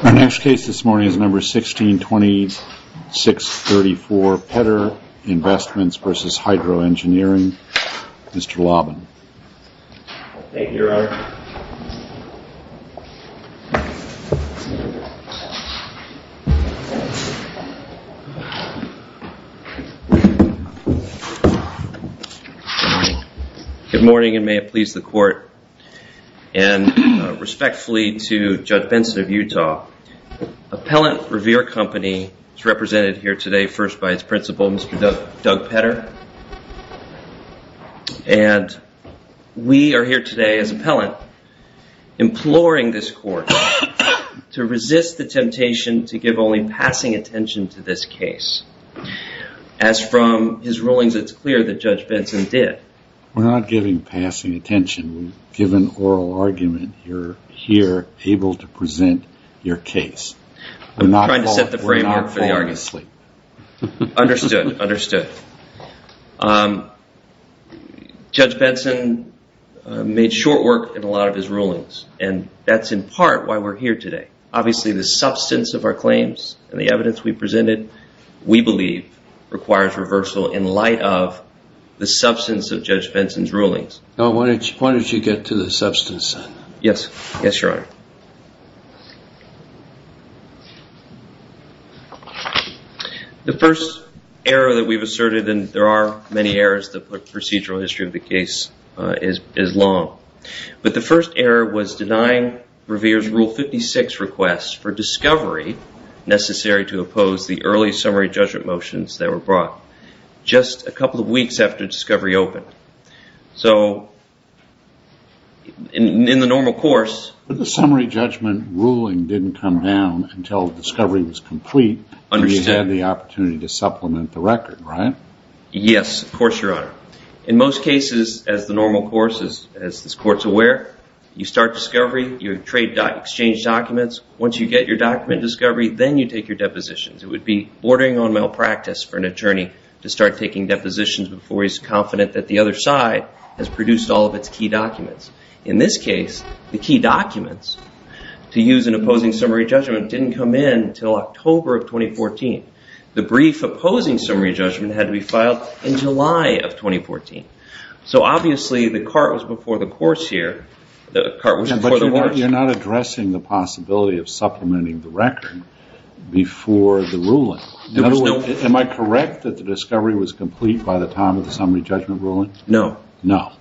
Our next case this morning is number 162634, Petter Investments v. Hydro Engineering. Mr. Lobben. Thank you, Your Honor. Good morning and may it please the court and respectfully to Judge Benson of Utah. Appellant Revere Company is represented here today first by its principal, Mr. Doug Petter. And we are here today as appellant imploring this court to resist the temptation to give only passing attention to this case. As from his rulings, it's clear that Judge Benson did. We're not giving passing attention. We've given oral argument. You're here able to present your case. We're not falling asleep. Understood, understood. Judge Benson made short work in a lot of his rulings and that's in part why we're here today. Obviously the substance of our claims and the evidence we presented we believe requires reversal in light of the substance of Judge Benson's rulings. Now when did you get to the substance? Yes, yes, Your Honor. The first error that we've asserted, and there are many errors, the procedural history of the case is long. But the first error was denying Revere's Rule 56 request for discovery necessary to oppose the early summary judgment motions that were brought just a couple of weeks after discovery opened. So in the normal course... But the summary judgment ruling didn't come down until discovery was complete and you had the opportunity to supplement the record, right? Yes, of course, Your Honor. In most cases, as the normal course, as this court's aware, you start discovery, you trade documents, exchange documents. Once you get your document discovery, then you take your depositions. It would be bordering on malpractice for an attorney to start taking depositions before he's confident that the other side has produced all of its key documents. In this case, the key documents to use in opposing summary judgment didn't come in until October of 2014. The brief opposing summary judgment had to be filed in July of 2014. So obviously the cart was before the horse here. But you're not addressing the possibility of supplementing the record before the ruling. Am I correct that the discovery was complete by the time of the summary judgment ruling? No. No.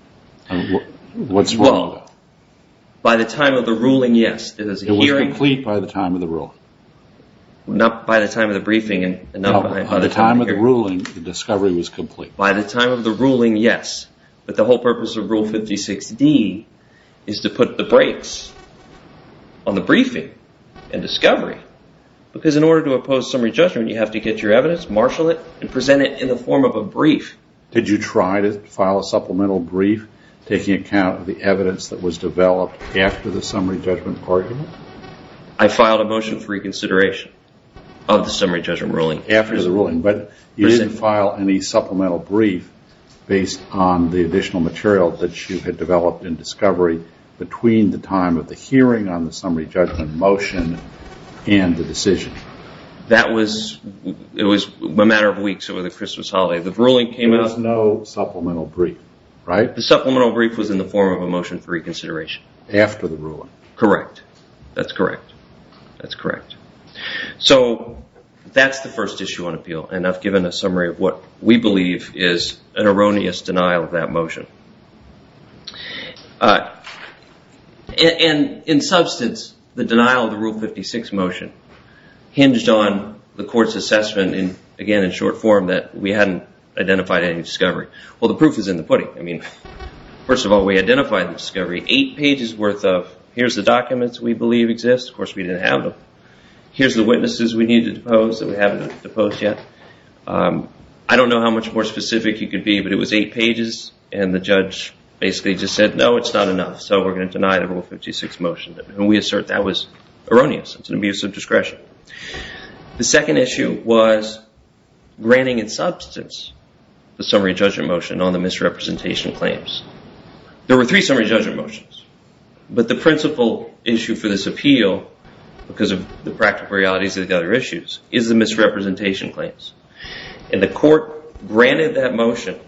What's wrong with that? By the time of the ruling, yes. It was complete by the time of the ruling. Not by the time of the briefing. By the time of the ruling, the discovery was complete. By the time of the ruling, yes. But the whole purpose of Rule 56D is to put the brakes on the briefing and discovery. Because in order to oppose summary judgment, you have to get your evidence, marshal it, and present it in the form of a brief. Did you try to file a supplemental brief taking account of the evidence that was developed after the summary judgment argument? I filed a motion for reconsideration of the summary judgment ruling. After the ruling. But you didn't file any supplemental brief based on the additional material that you had developed in discovery between the time of the hearing on the summary judgment motion and the decision. That was, it was a matter of weeks over the Christmas holiday. The ruling came out. There was no supplemental brief, right? The supplemental brief was in the form of a motion for reconsideration. After the ruling. Correct. That's correct. That's correct. So, that's the first issue on appeal and I've given a summary of what we believe is an erroneous denial of that motion. And in substance, the denial of the Rule 56 motion hinged on the court's assessment, again in short form, that we hadn't identified any discovery. Well, the proof is in the pudding. I mean, first of all, we identified the discovery. Eight pages worth of, here's the documents we believe exist. Of course, we didn't have them. Here's the witnesses we need to depose that we haven't deposed yet. I don't know how much more specific you could be, but it was eight pages and the judge basically just said, no, it's not enough. So, we're going to deny the Rule 56 motion. And we assert that was erroneous. It's an abuse of discretion. The second issue was granting in substance the summary judgment motion on the misrepresentation claims. There were three summary judgment motions. But the principal issue for this appeal, because of the practical realities of the other issues, is the misrepresentation claims. And the court granted that motion,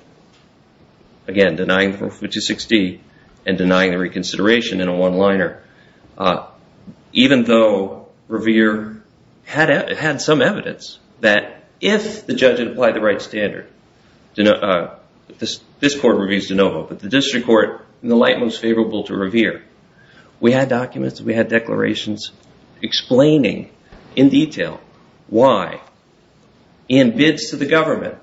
again, denying the Rule 56D and denying the reconsideration in a one-liner, even though Revere had some evidence that if the judge had applied the right standard, this court reviews de novo, but the district court, in the light most favorable to Revere. We had documents. We had declarations explaining in detail why, in bids to the government,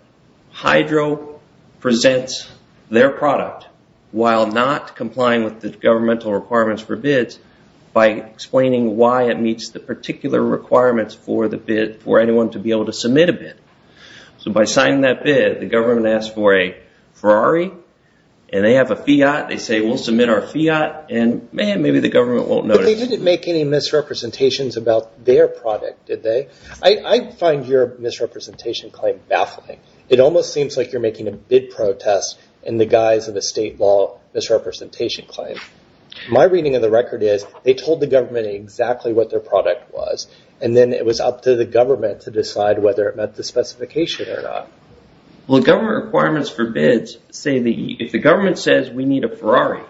Hydro presents their product while not complying with the governmental requirements for bids by explaining why it meets the particular requirements for the bid for anyone to be able to submit a bid. So by signing that bid, the government asked for a Ferrari, and they have a Fiat. They say, we'll submit our Fiat, and man, maybe the government won't notice. But they didn't make any misrepresentations about their product, did they? I find your misrepresentation claim baffling. It almost seems like you're making a bid protest in the guise of a state law misrepresentation claim. My reading of the record is they told the government exactly what their product was, and then it was up to the government to decide whether it met the specification or not. Well, government requirements for bids say that if the government says we need a Ferrari,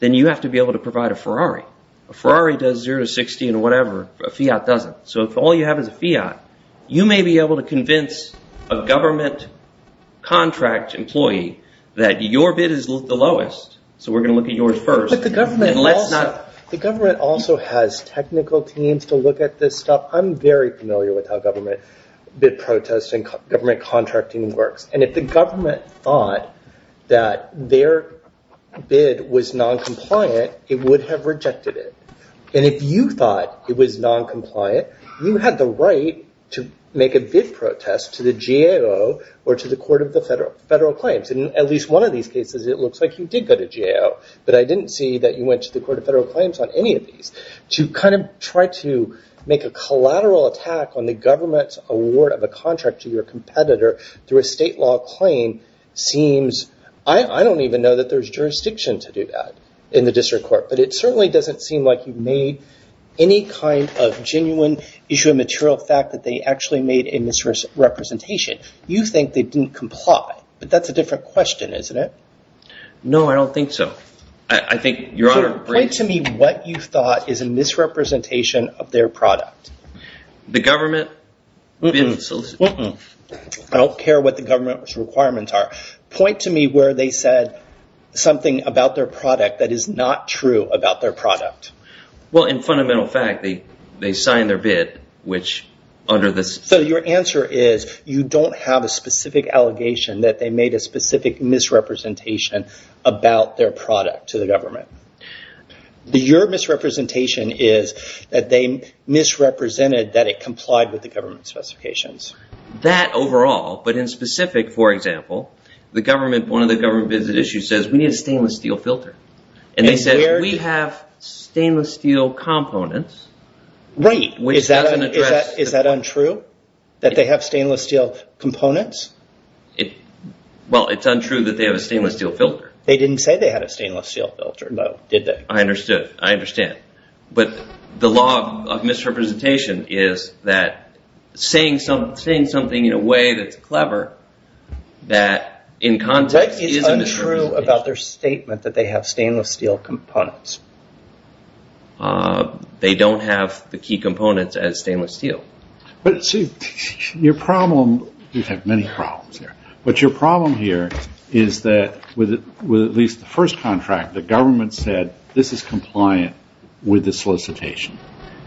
then you have to be able to provide a Ferrari. A Ferrari does zero to 60 and whatever. A Fiat doesn't. So if all you have is a Fiat, you may be able to convince a government contract employee that your bid is the lowest, so we're going to look at yours first. The government also has technical teams to look at this stuff. I'm very familiar with how government bid protests and government contracting works. And if the government thought that their bid was noncompliant, it would have rejected it. And if you thought it was noncompliant, you had the right to make a bid protest to the GAO or to the Court of the Federal Claims. In at least one of these cases, it looks like you did go to GAO, but I didn't see that you went to the Court of Federal Claims on any of these. To kind of try to make a collateral attack on the government's award of a contract to your competitor through a state law claim seems – I don't even know that there's jurisdiction to do that in the district court, but it certainly doesn't seem like you've made any kind of genuine issue of material fact that they actually made a misrepresentation. You think they didn't comply, but that's a different question, isn't it? No, I don't think so. I think your Honor – Point to me what you thought is a misrepresentation of their product. The government – I don't care what the government's requirements are. Point to me where they said something about their product that is not true about their product. Well, in fundamental fact, they signed their bid, which under the – So your answer is you don't have a specific allegation that they made a specific misrepresentation about their product to the government. Your misrepresentation is that they misrepresented that it complied with the government's specifications. That overall, but in specific, for example, the government – one of the government visit issues says we need a stainless steel filter, and they said we have stainless steel components – Right. Is that untrue, that they have stainless steel components? Well, it's untrue that they have a stainless steel filter. They didn't say they had a stainless steel filter, though, did they? I understood. I understand. But the law of misrepresentation is that saying something in a way that's clever, that in context is a misrepresentation. What is untrue about their statement that they have stainless steel components? They don't have the key components as stainless steel. But your problem – you have many problems here. But your problem here is that with at least the first contract, the government said this is compliant with the solicitation.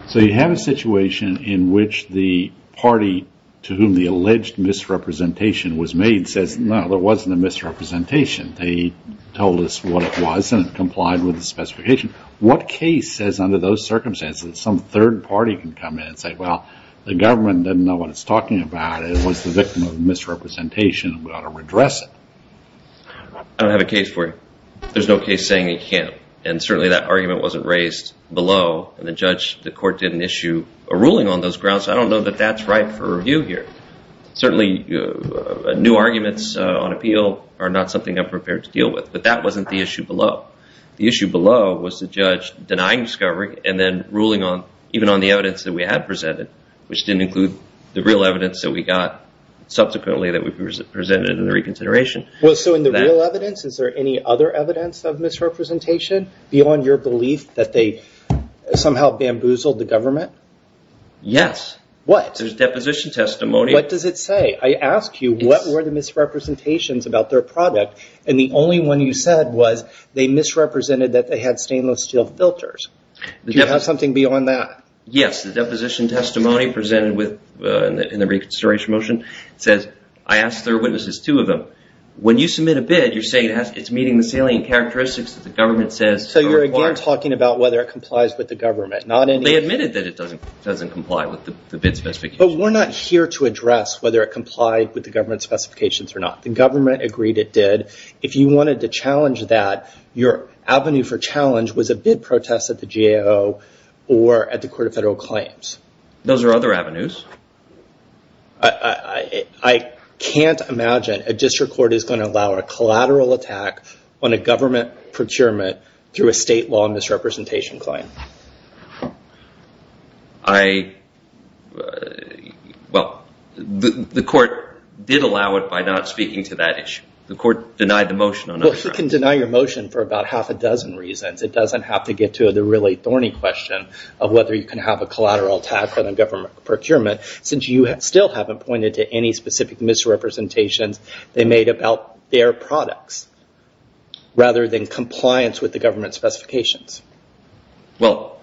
So you have a situation in which the party to whom the alleged misrepresentation was made says, no, there wasn't a misrepresentation. They told us what it was, and it complied with the specification. What case says under those circumstances that some third party can come in and say, well, the government doesn't know what it's talking about. It was the victim of misrepresentation, and we ought to redress it? I don't have a case for you. There's no case saying it can't. And certainly that argument wasn't raised below, and the court didn't issue a ruling on those grounds, so I don't know that that's right for review here. Certainly new arguments on appeal are not something I'm prepared to deal with, but that wasn't the issue below. The issue below was the judge denying discovery and then ruling even on the evidence that we had presented, which didn't include the real evidence that we got subsequently that we presented in the reconsideration. So in the real evidence, is there any other evidence of misrepresentation beyond your belief that they somehow bamboozled the government? Yes. What? Yes, there's deposition testimony. What does it say? I asked you what were the misrepresentations about their product, and the only one you said was they misrepresented that they had stainless steel filters. Do you have something beyond that? Yes. The deposition testimony presented in the reconsideration motion says, I asked their witnesses, two of them, when you submit a bid, you're saying it's meeting the salient characteristics that the government says. So you're again talking about whether it complies with the government, not any… They admitted that it doesn't comply with the bid specifications. But we're not here to address whether it complied with the government's specifications or not. The government agreed it did. If you wanted to challenge that, your avenue for challenge was a bid protest at the GAO or at the Court of Federal Claims. Those are other avenues. I can't imagine a district court is going to allow a collateral attack on a government procurement through a state law misrepresentation claim. Well, the court did allow it by not speaking to that issue. The court denied the motion. Well, it can deny your motion for about half a dozen reasons. It doesn't have to get to the really thorny question of whether you can have a collateral attack on a government procurement, since you still haven't pointed to any specific misrepresentations they made about their products, rather than compliance with the government's specifications. Well,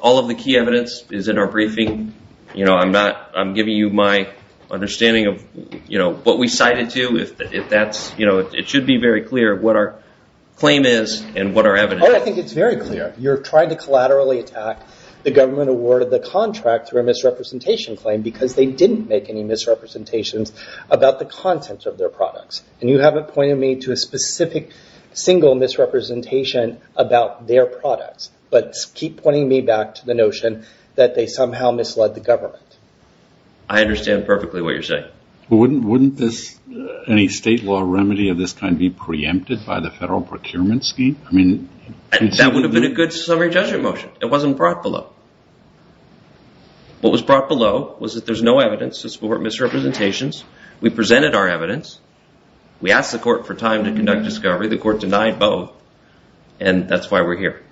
all of the key evidence is in our briefing. I'm giving you my understanding of what we cited to. It should be very clear what our claim is and what our evidence is. I think it's very clear. You're trying to collaterally attack the government award of the contract through a misrepresentation claim because they didn't make any misrepresentations about the content of their products. You haven't pointed me to a specific single misrepresentation about their products, but keep pointing me back to the notion that they somehow misled the government. I understand perfectly what you're saying. Wouldn't any state law remedy of this kind be preempted by the federal procurement scheme? That wouldn't have been a good summary judgment motion. It wasn't brought below. What was brought below was that there's no evidence to support misrepresentations. We presented our evidence. We asked the court for time to conduct discovery. The court denied both, and that's why we're here.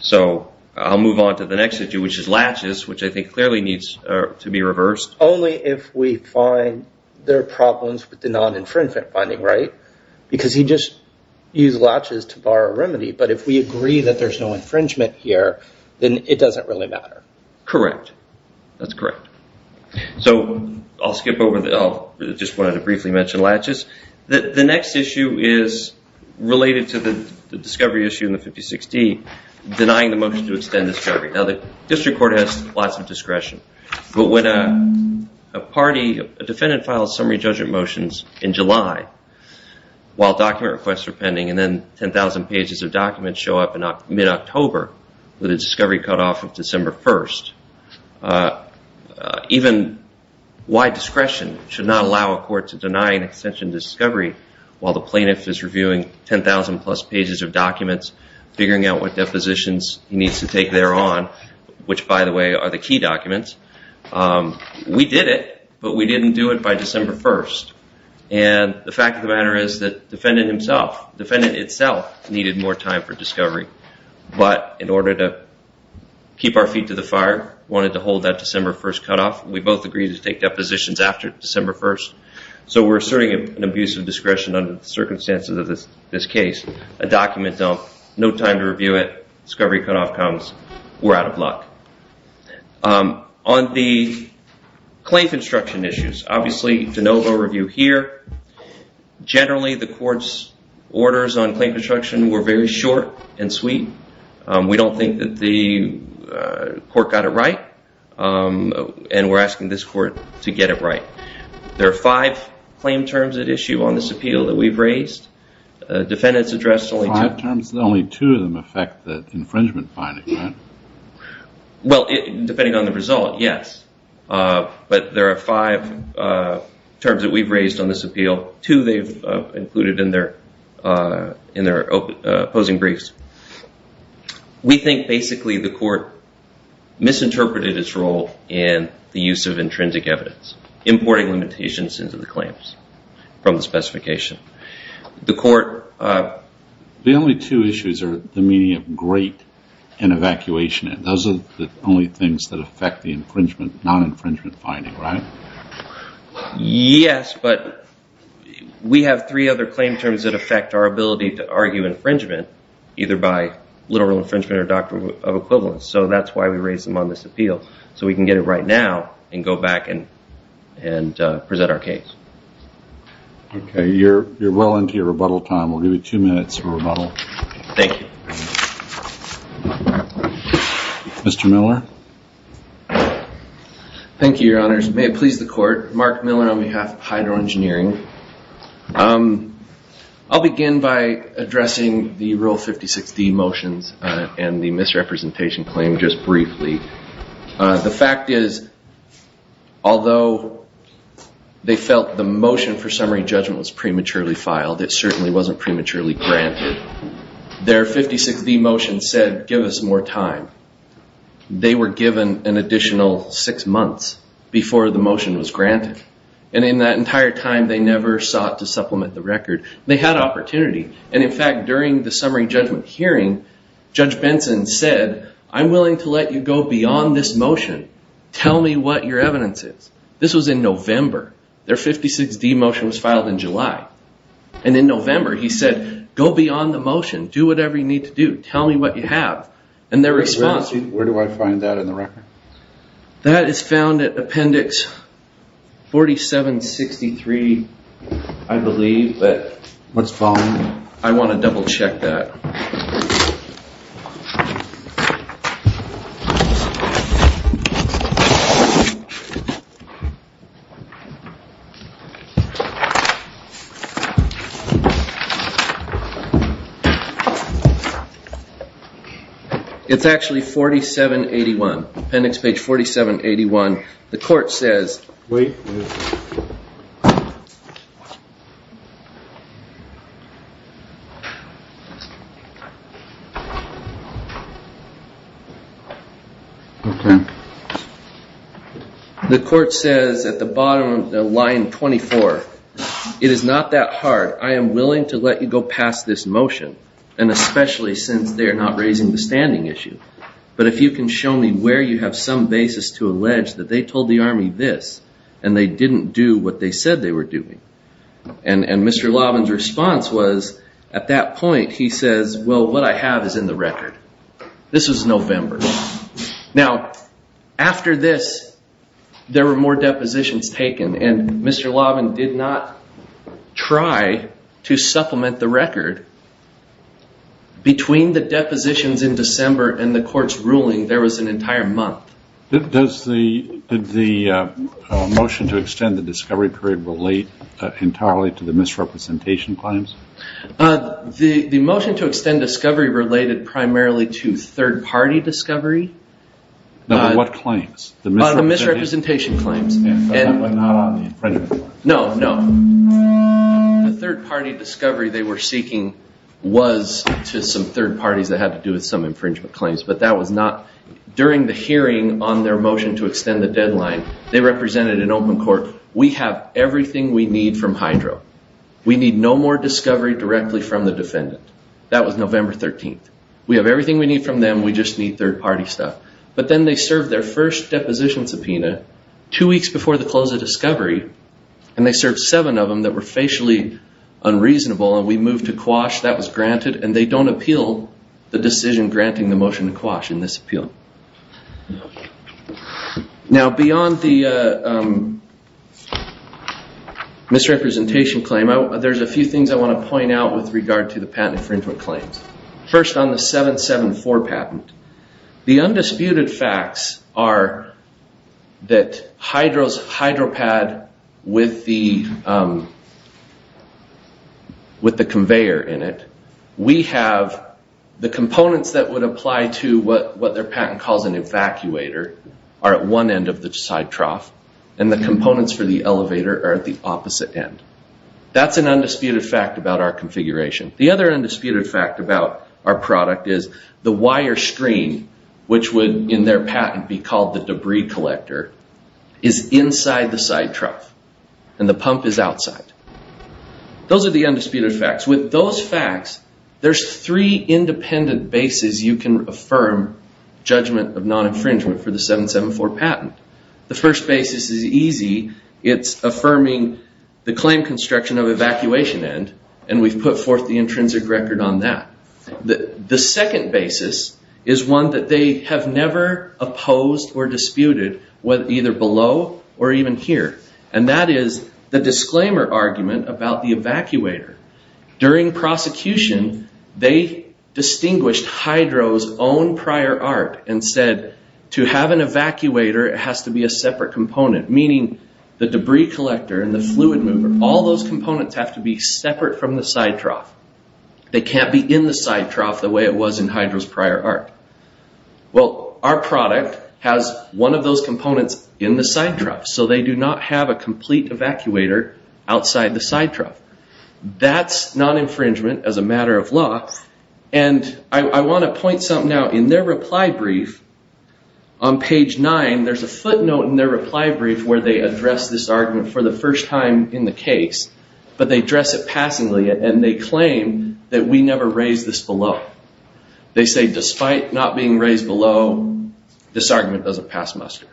So I'll move on to the next issue, which is latches, which I think clearly needs to be reversed. Only if we find there are problems with the non-infringement finding, right? Because he just used latches to borrow a remedy. But if we agree that there's no infringement here, then it doesn't really matter. Correct. That's correct. So I'll skip over that. I just wanted to briefly mention latches. The next issue is related to the discovery issue in the 5060, denying the motion to extend discovery. Now, the district court has lots of discretion, but when a defendant files summary judgment motions in July while document requests are pending and then 10,000 pages of documents show up in mid-October with a discovery cutoff of December 1st, even wide discretion should not allow a court to deny an extension to discovery while the plaintiff is reviewing 10,000-plus pages of documents, figuring out what depositions he needs to take thereon, which, by the way, are the key documents. We did it, but we didn't do it by December 1st. And the fact of the matter is that the defendant himself, the defendant itself, needed more time for discovery. But in order to keep our feet to the fire, wanted to hold that December 1st cutoff. We both agreed to take depositions after December 1st, so we're asserting an abuse of discretion under the circumstances of this case. A document dump, no time to review it, discovery cutoff comes, we're out of luck. On the claim construction issues, obviously de novo review here. Generally, the court's orders on claim construction were very short and sweet. We don't think that the court got it right, and we're asking this court to get it right. There are five claim terms at issue on this appeal that we've raised. Five terms, and only two of them affect the infringement finding, right? Well, depending on the result, yes. But there are five terms that we've raised on this appeal. Two they've included in their opposing briefs. We think basically the court misinterpreted its role in the use of intrinsic evidence, importing limitations into the claims from the specification. The court... The only two issues are the meaning of great and evacuation. Those are the only things that affect the non-infringement finding, right? Yes, but we have three other claim terms that affect our ability to argue infringement, either by literal infringement or doctrine of equivalence. So that's why we raised them on this appeal, so we can get it right now and go back and present our case. Okay, you're well into your rebuttal time. We'll give you two minutes for rebuttal. Thank you. Mr. Miller? Thank you, Your Honors. May it please the court. Mark Miller on behalf of Hydro Engineering. I'll begin by addressing the Rule 56d motions and the misrepresentation claim just briefly. The fact is, although they felt the motion for summary judgment was prematurely filed, it certainly wasn't prematurely granted. Their 56d motion said, give us more time. They were given an additional six months before the motion was granted. And in that entire time, they never sought to supplement the record. They had opportunity. And in fact, during the summary judgment hearing, Judge Benson said, I'm willing to let you go beyond this motion. Tell me what your evidence is. This was in November. Their 56d motion was filed in July. And in November, he said, go beyond the motion. Do whatever you need to do. Tell me what you have. And their response. Where do I find that in the record? That is found at Appendix 4763, I believe. What's following that? I want to double check that. It's actually 4781. Appendix page 4781. The court says. The court says at the bottom of the line 24, it is not that hard. I am willing to let you go past this motion. And especially since they are not raising the standing issue. But if you can show me where you have some basis to allege that they told the army this. And they didn't do what they said they were doing. And Mr. Lavin's response was, at that point, he says, well, what I have is in the record. This was November. Now, after this, there were more depositions taken. And Mr. Lavin did not try to supplement the record. Between the depositions in December and the court's ruling, there was an entire month. Did the motion to extend the discovery period relate entirely to the misrepresentation claims? The motion to extend discovery related primarily to third-party discovery. What claims? The misrepresentation claims. No, no. The third-party discovery they were seeking was to some third parties that had to do with some infringement claims. But that was not. During the hearing on their motion to extend the deadline, they represented an open court. We have everything we need from Hydro. We need no more discovery directly from the defendant. That was November 13th. We have everything we need from them. We just need third-party stuff. But then they served their first deposition subpoena. Two weeks before the close of discovery. And they served seven of them that were facially unreasonable. And we moved to quash. That was granted. And they don't appeal the decision granting the motion to quash in this appeal. Now, beyond the misrepresentation claim, there's a few things I want to point out with regard to the patent infringement claims. First, on the 774 patent. The undisputed facts are that Hydropad with the conveyor in it. We have the components that would apply to what their patent calls an evacuator are at one end of the side trough. And the components for the elevator are at the opposite end. That's an undisputed fact about our configuration. The other undisputed fact about our product is the wire stream, which would in their patent be called the debris collector, is inside the side trough. And the pump is outside. Those are the undisputed facts. With those facts, there's three independent bases you can affirm judgment of non-infringement for the 774 patent. The first basis is easy. It's affirming the claim construction of evacuation end. And we've put forth the intrinsic record on that. The second basis is one that they have never opposed or disputed, either below or even here. And that is the disclaimer argument about the evacuator. During prosecution, they distinguished Hydro's own prior art and said, to have an evacuator, it has to be a separate component. Meaning the debris collector and the fluid mover, all those components have to be separate from the side trough. They can't be in the side trough the way it was in Hydro's prior art. Well, our product has one of those components in the side trough. So they do not have a complete evacuator outside the side trough. That's non-infringement as a matter of law. And I want to point something out. In their reply brief on page 9, there's a footnote in their reply brief where they address this argument for the first time in the case. But they address it passingly, and they claim that we never raised this below. They say, despite not being raised below, this argument doesn't pass muster.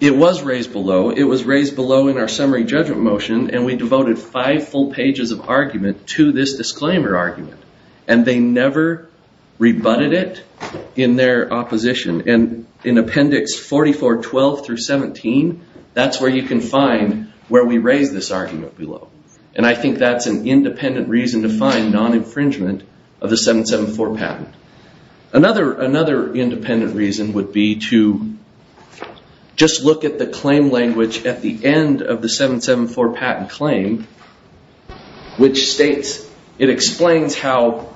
It was raised below. It was raised below in our summary judgment motion, and we devoted five full pages of argument to this disclaimer argument. And they never rebutted it in their opposition. And in appendix 4412 through 17, that's where you can find where we raised this argument below. And I think that's an independent reason to find non-infringement of the 774 patent. Another independent reason would be to just look at the claim language at the end of the 774 patent claim, which states it explains how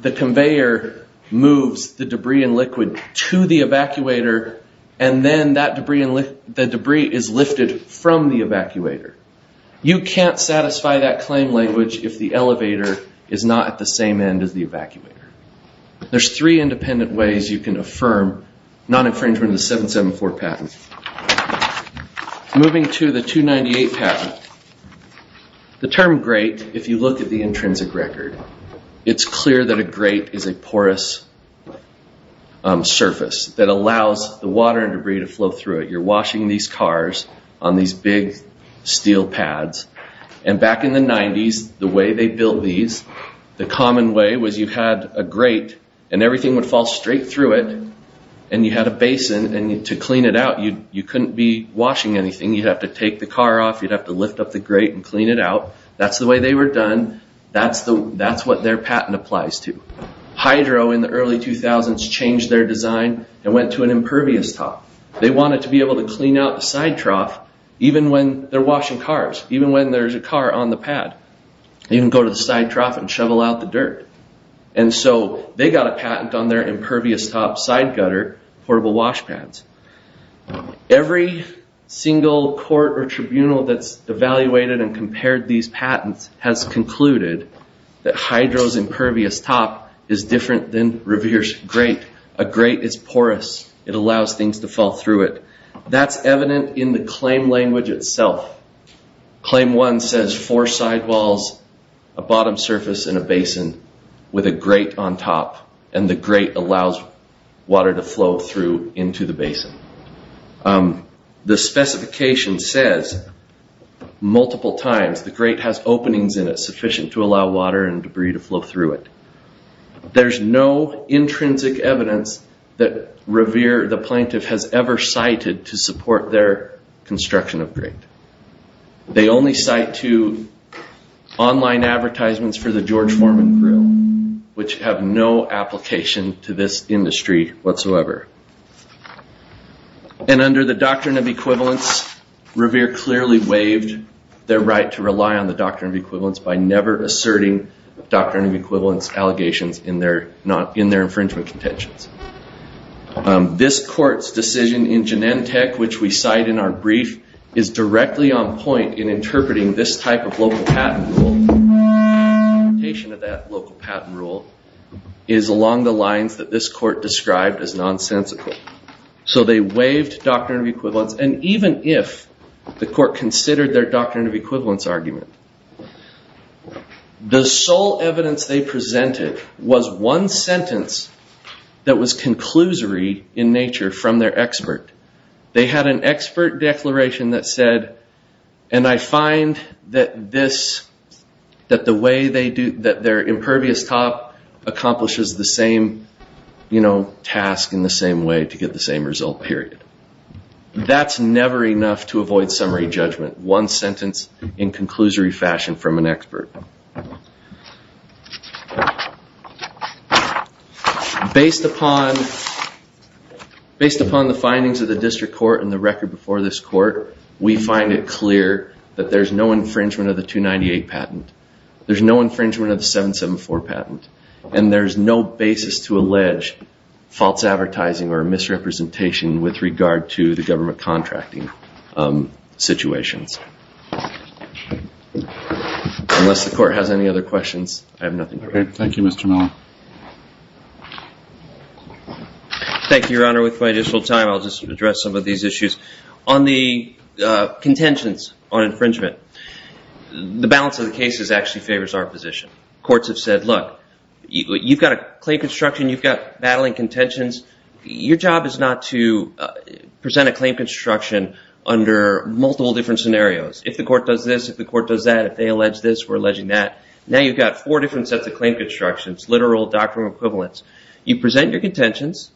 the conveyor moves the debris and liquid to the evacuator, and then the debris is lifted from the evacuator. You can't satisfy that claim language if the elevator is not at the same end as the evacuator. There's three independent ways you can affirm non-infringement of the 774 patent. Moving to the 298 patent, the term grate, if you look at the intrinsic record, it's clear that a grate is a porous surface that allows the water and debris to flow through it. You're washing these cars on these big steel pads. And back in the 90s, the way they built these, the common way was you had a grate, and everything would fall straight through it, and you had a basin. And to clean it out, you couldn't be washing anything. You'd have to take the car off. You'd have to lift up the grate and clean it out. That's the way they were done. That's what their patent applies to. Hydro in the early 2000s changed their design and went to an impervious top. They wanted to be able to clean out the side trough even when they're washing cars, even when there's a car on the pad. You can go to the side trough and shovel out the dirt. And so they got a patent on their impervious top side gutter portable wash pads. Every single court or tribunal that's evaluated and compared these patents has concluded that hydro's impervious top is different than Revere's grate. A grate is porous. It allows things to fall through it. That's evident in the claim language itself. Claim one says four sidewalls, a bottom surface, and a basin with a grate on top, and the grate allows water to flow through into the basin. The specification says multiple times the grate has openings in it sufficient to allow water and debris to flow through it. There's no intrinsic evidence that Revere, the plaintiff, has ever cited to support their construction of grate. They only cite to online advertisements for the George Foreman Grill, which have no application to this industry whatsoever. And under the Doctrine of Equivalence, Revere clearly waived their right to rely on the Doctrine of Equivalence by never asserting Doctrine of Equivalence allegations in their infringement contentions. This court's decision in Genentech, which we cite in our brief, is directly on point in interpreting this type of local patent rule, implementation of that local patent rule, is along the lines that this court described as nonsensical. So they waived Doctrine of Equivalence, and even if the court considered their Doctrine of Equivalence argument, the sole evidence they presented was one sentence that was conclusory in nature from their expert. They had an expert declaration that said, and I find that this, that the way they do, that their impervious top accomplishes the same, you know, task in the same way to get the same result, period. That's never enough to avoid summary judgment. One sentence in conclusory fashion from an expert. Based upon the findings of the district court and the record before this court, we find it clear that there's no infringement of the 298 patent. There's no infringement of the 774 patent. And there's no basis to allege false advertising or misrepresentation with regard to the government contracting situations. Unless the court has any other questions, I have nothing to add. Thank you, Mr. Miller. Thank you, Your Honor. With my additional time, I'll just address some of these issues. On the contentions on infringement, the balance of the cases actually favors our position. Courts have said, look, you've got a claim construction. You've got battling contentions. Your job is not to present a claim construction under multiple different scenarios. If the court does this, if the court does that, if they allege this, we're alleging that. Now you've got four different sets of claim constructions, literal doctrinal equivalents. You present your contentions,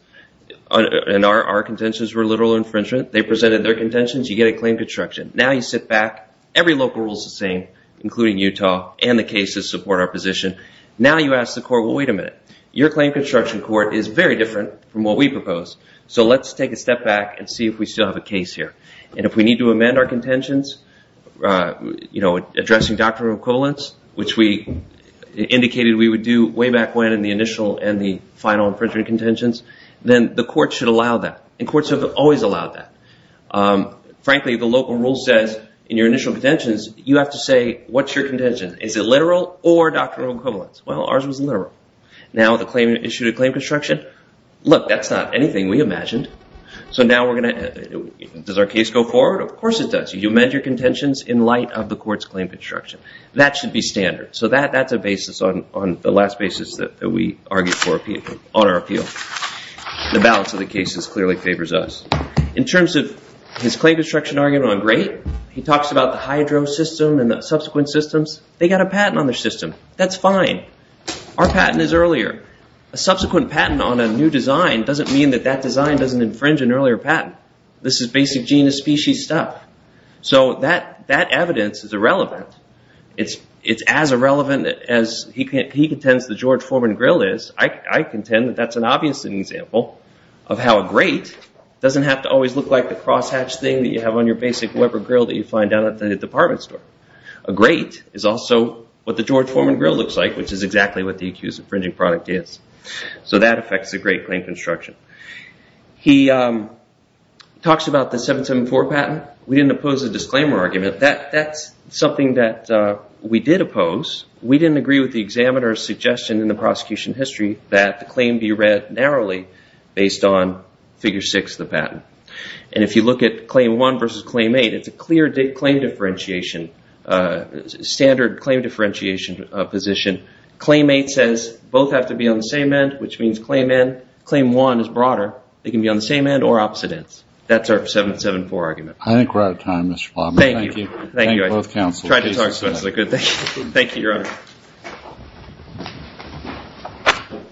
and our contentions were literal infringement. They presented their contentions. You get a claim construction. Now you sit back. Every local rule is the same, including Utah. And the cases support our position. Now you ask the court, well, wait a minute. Your claim construction court is very different from what we propose. So let's take a step back and see if we still have a case here. And if we need to amend our contentions, addressing doctrinal equivalents, which we indicated we would do way back when in the initial and the final infringement contentions, then the court should allow that. And courts have always allowed that. Frankly, the local rule says in your initial contentions, you have to say what's your contention. Is it literal or doctrinal equivalents? Well, ours was literal. Now the claimant issued a claim construction. Look, that's not anything we imagined. So now we're going to – does our case go forward? Of course it does. You amend your contentions in light of the court's claim construction. That should be standard. So that's a basis on the last basis that we argued for on our appeal. The balance of the cases clearly favors us. In terms of his claim construction argument on great, he talks about the hydro system and the subsequent systems. They got a patent on their system. That's fine. Our patent is earlier. A subsequent patent on a new design doesn't mean that that design doesn't infringe an earlier patent. This is basic genus species stuff. So that evidence is irrelevant. It's as irrelevant as he contends the George Foreman grill is. I contend that that's an obvious example of how a great doesn't have to always look like the crosshatch thing that you have on your basic Weber grill that you find down at the department store. A great is also what the George Foreman grill looks like, which is exactly what the accused infringing product is. So that affects the great claim construction. He talks about the 774 patent. We didn't oppose the disclaimer argument. That's something that we did oppose. We didn't agree with the examiner's suggestion in the prosecution history that the claim be read narrowly based on figure six of the patent. And if you look at claim one versus claim eight, it's a clear claim differentiation, standard claim differentiation position. Claim eight says both have to be on the same end, which means claim one is broader. They can be on the same end or opposite ends. That's our 774 argument. I think we're out of time, Mr. Plotman. Thank you. Thank you. Thank you both, counsel. Thank you. Thank you. Thank you, your honor.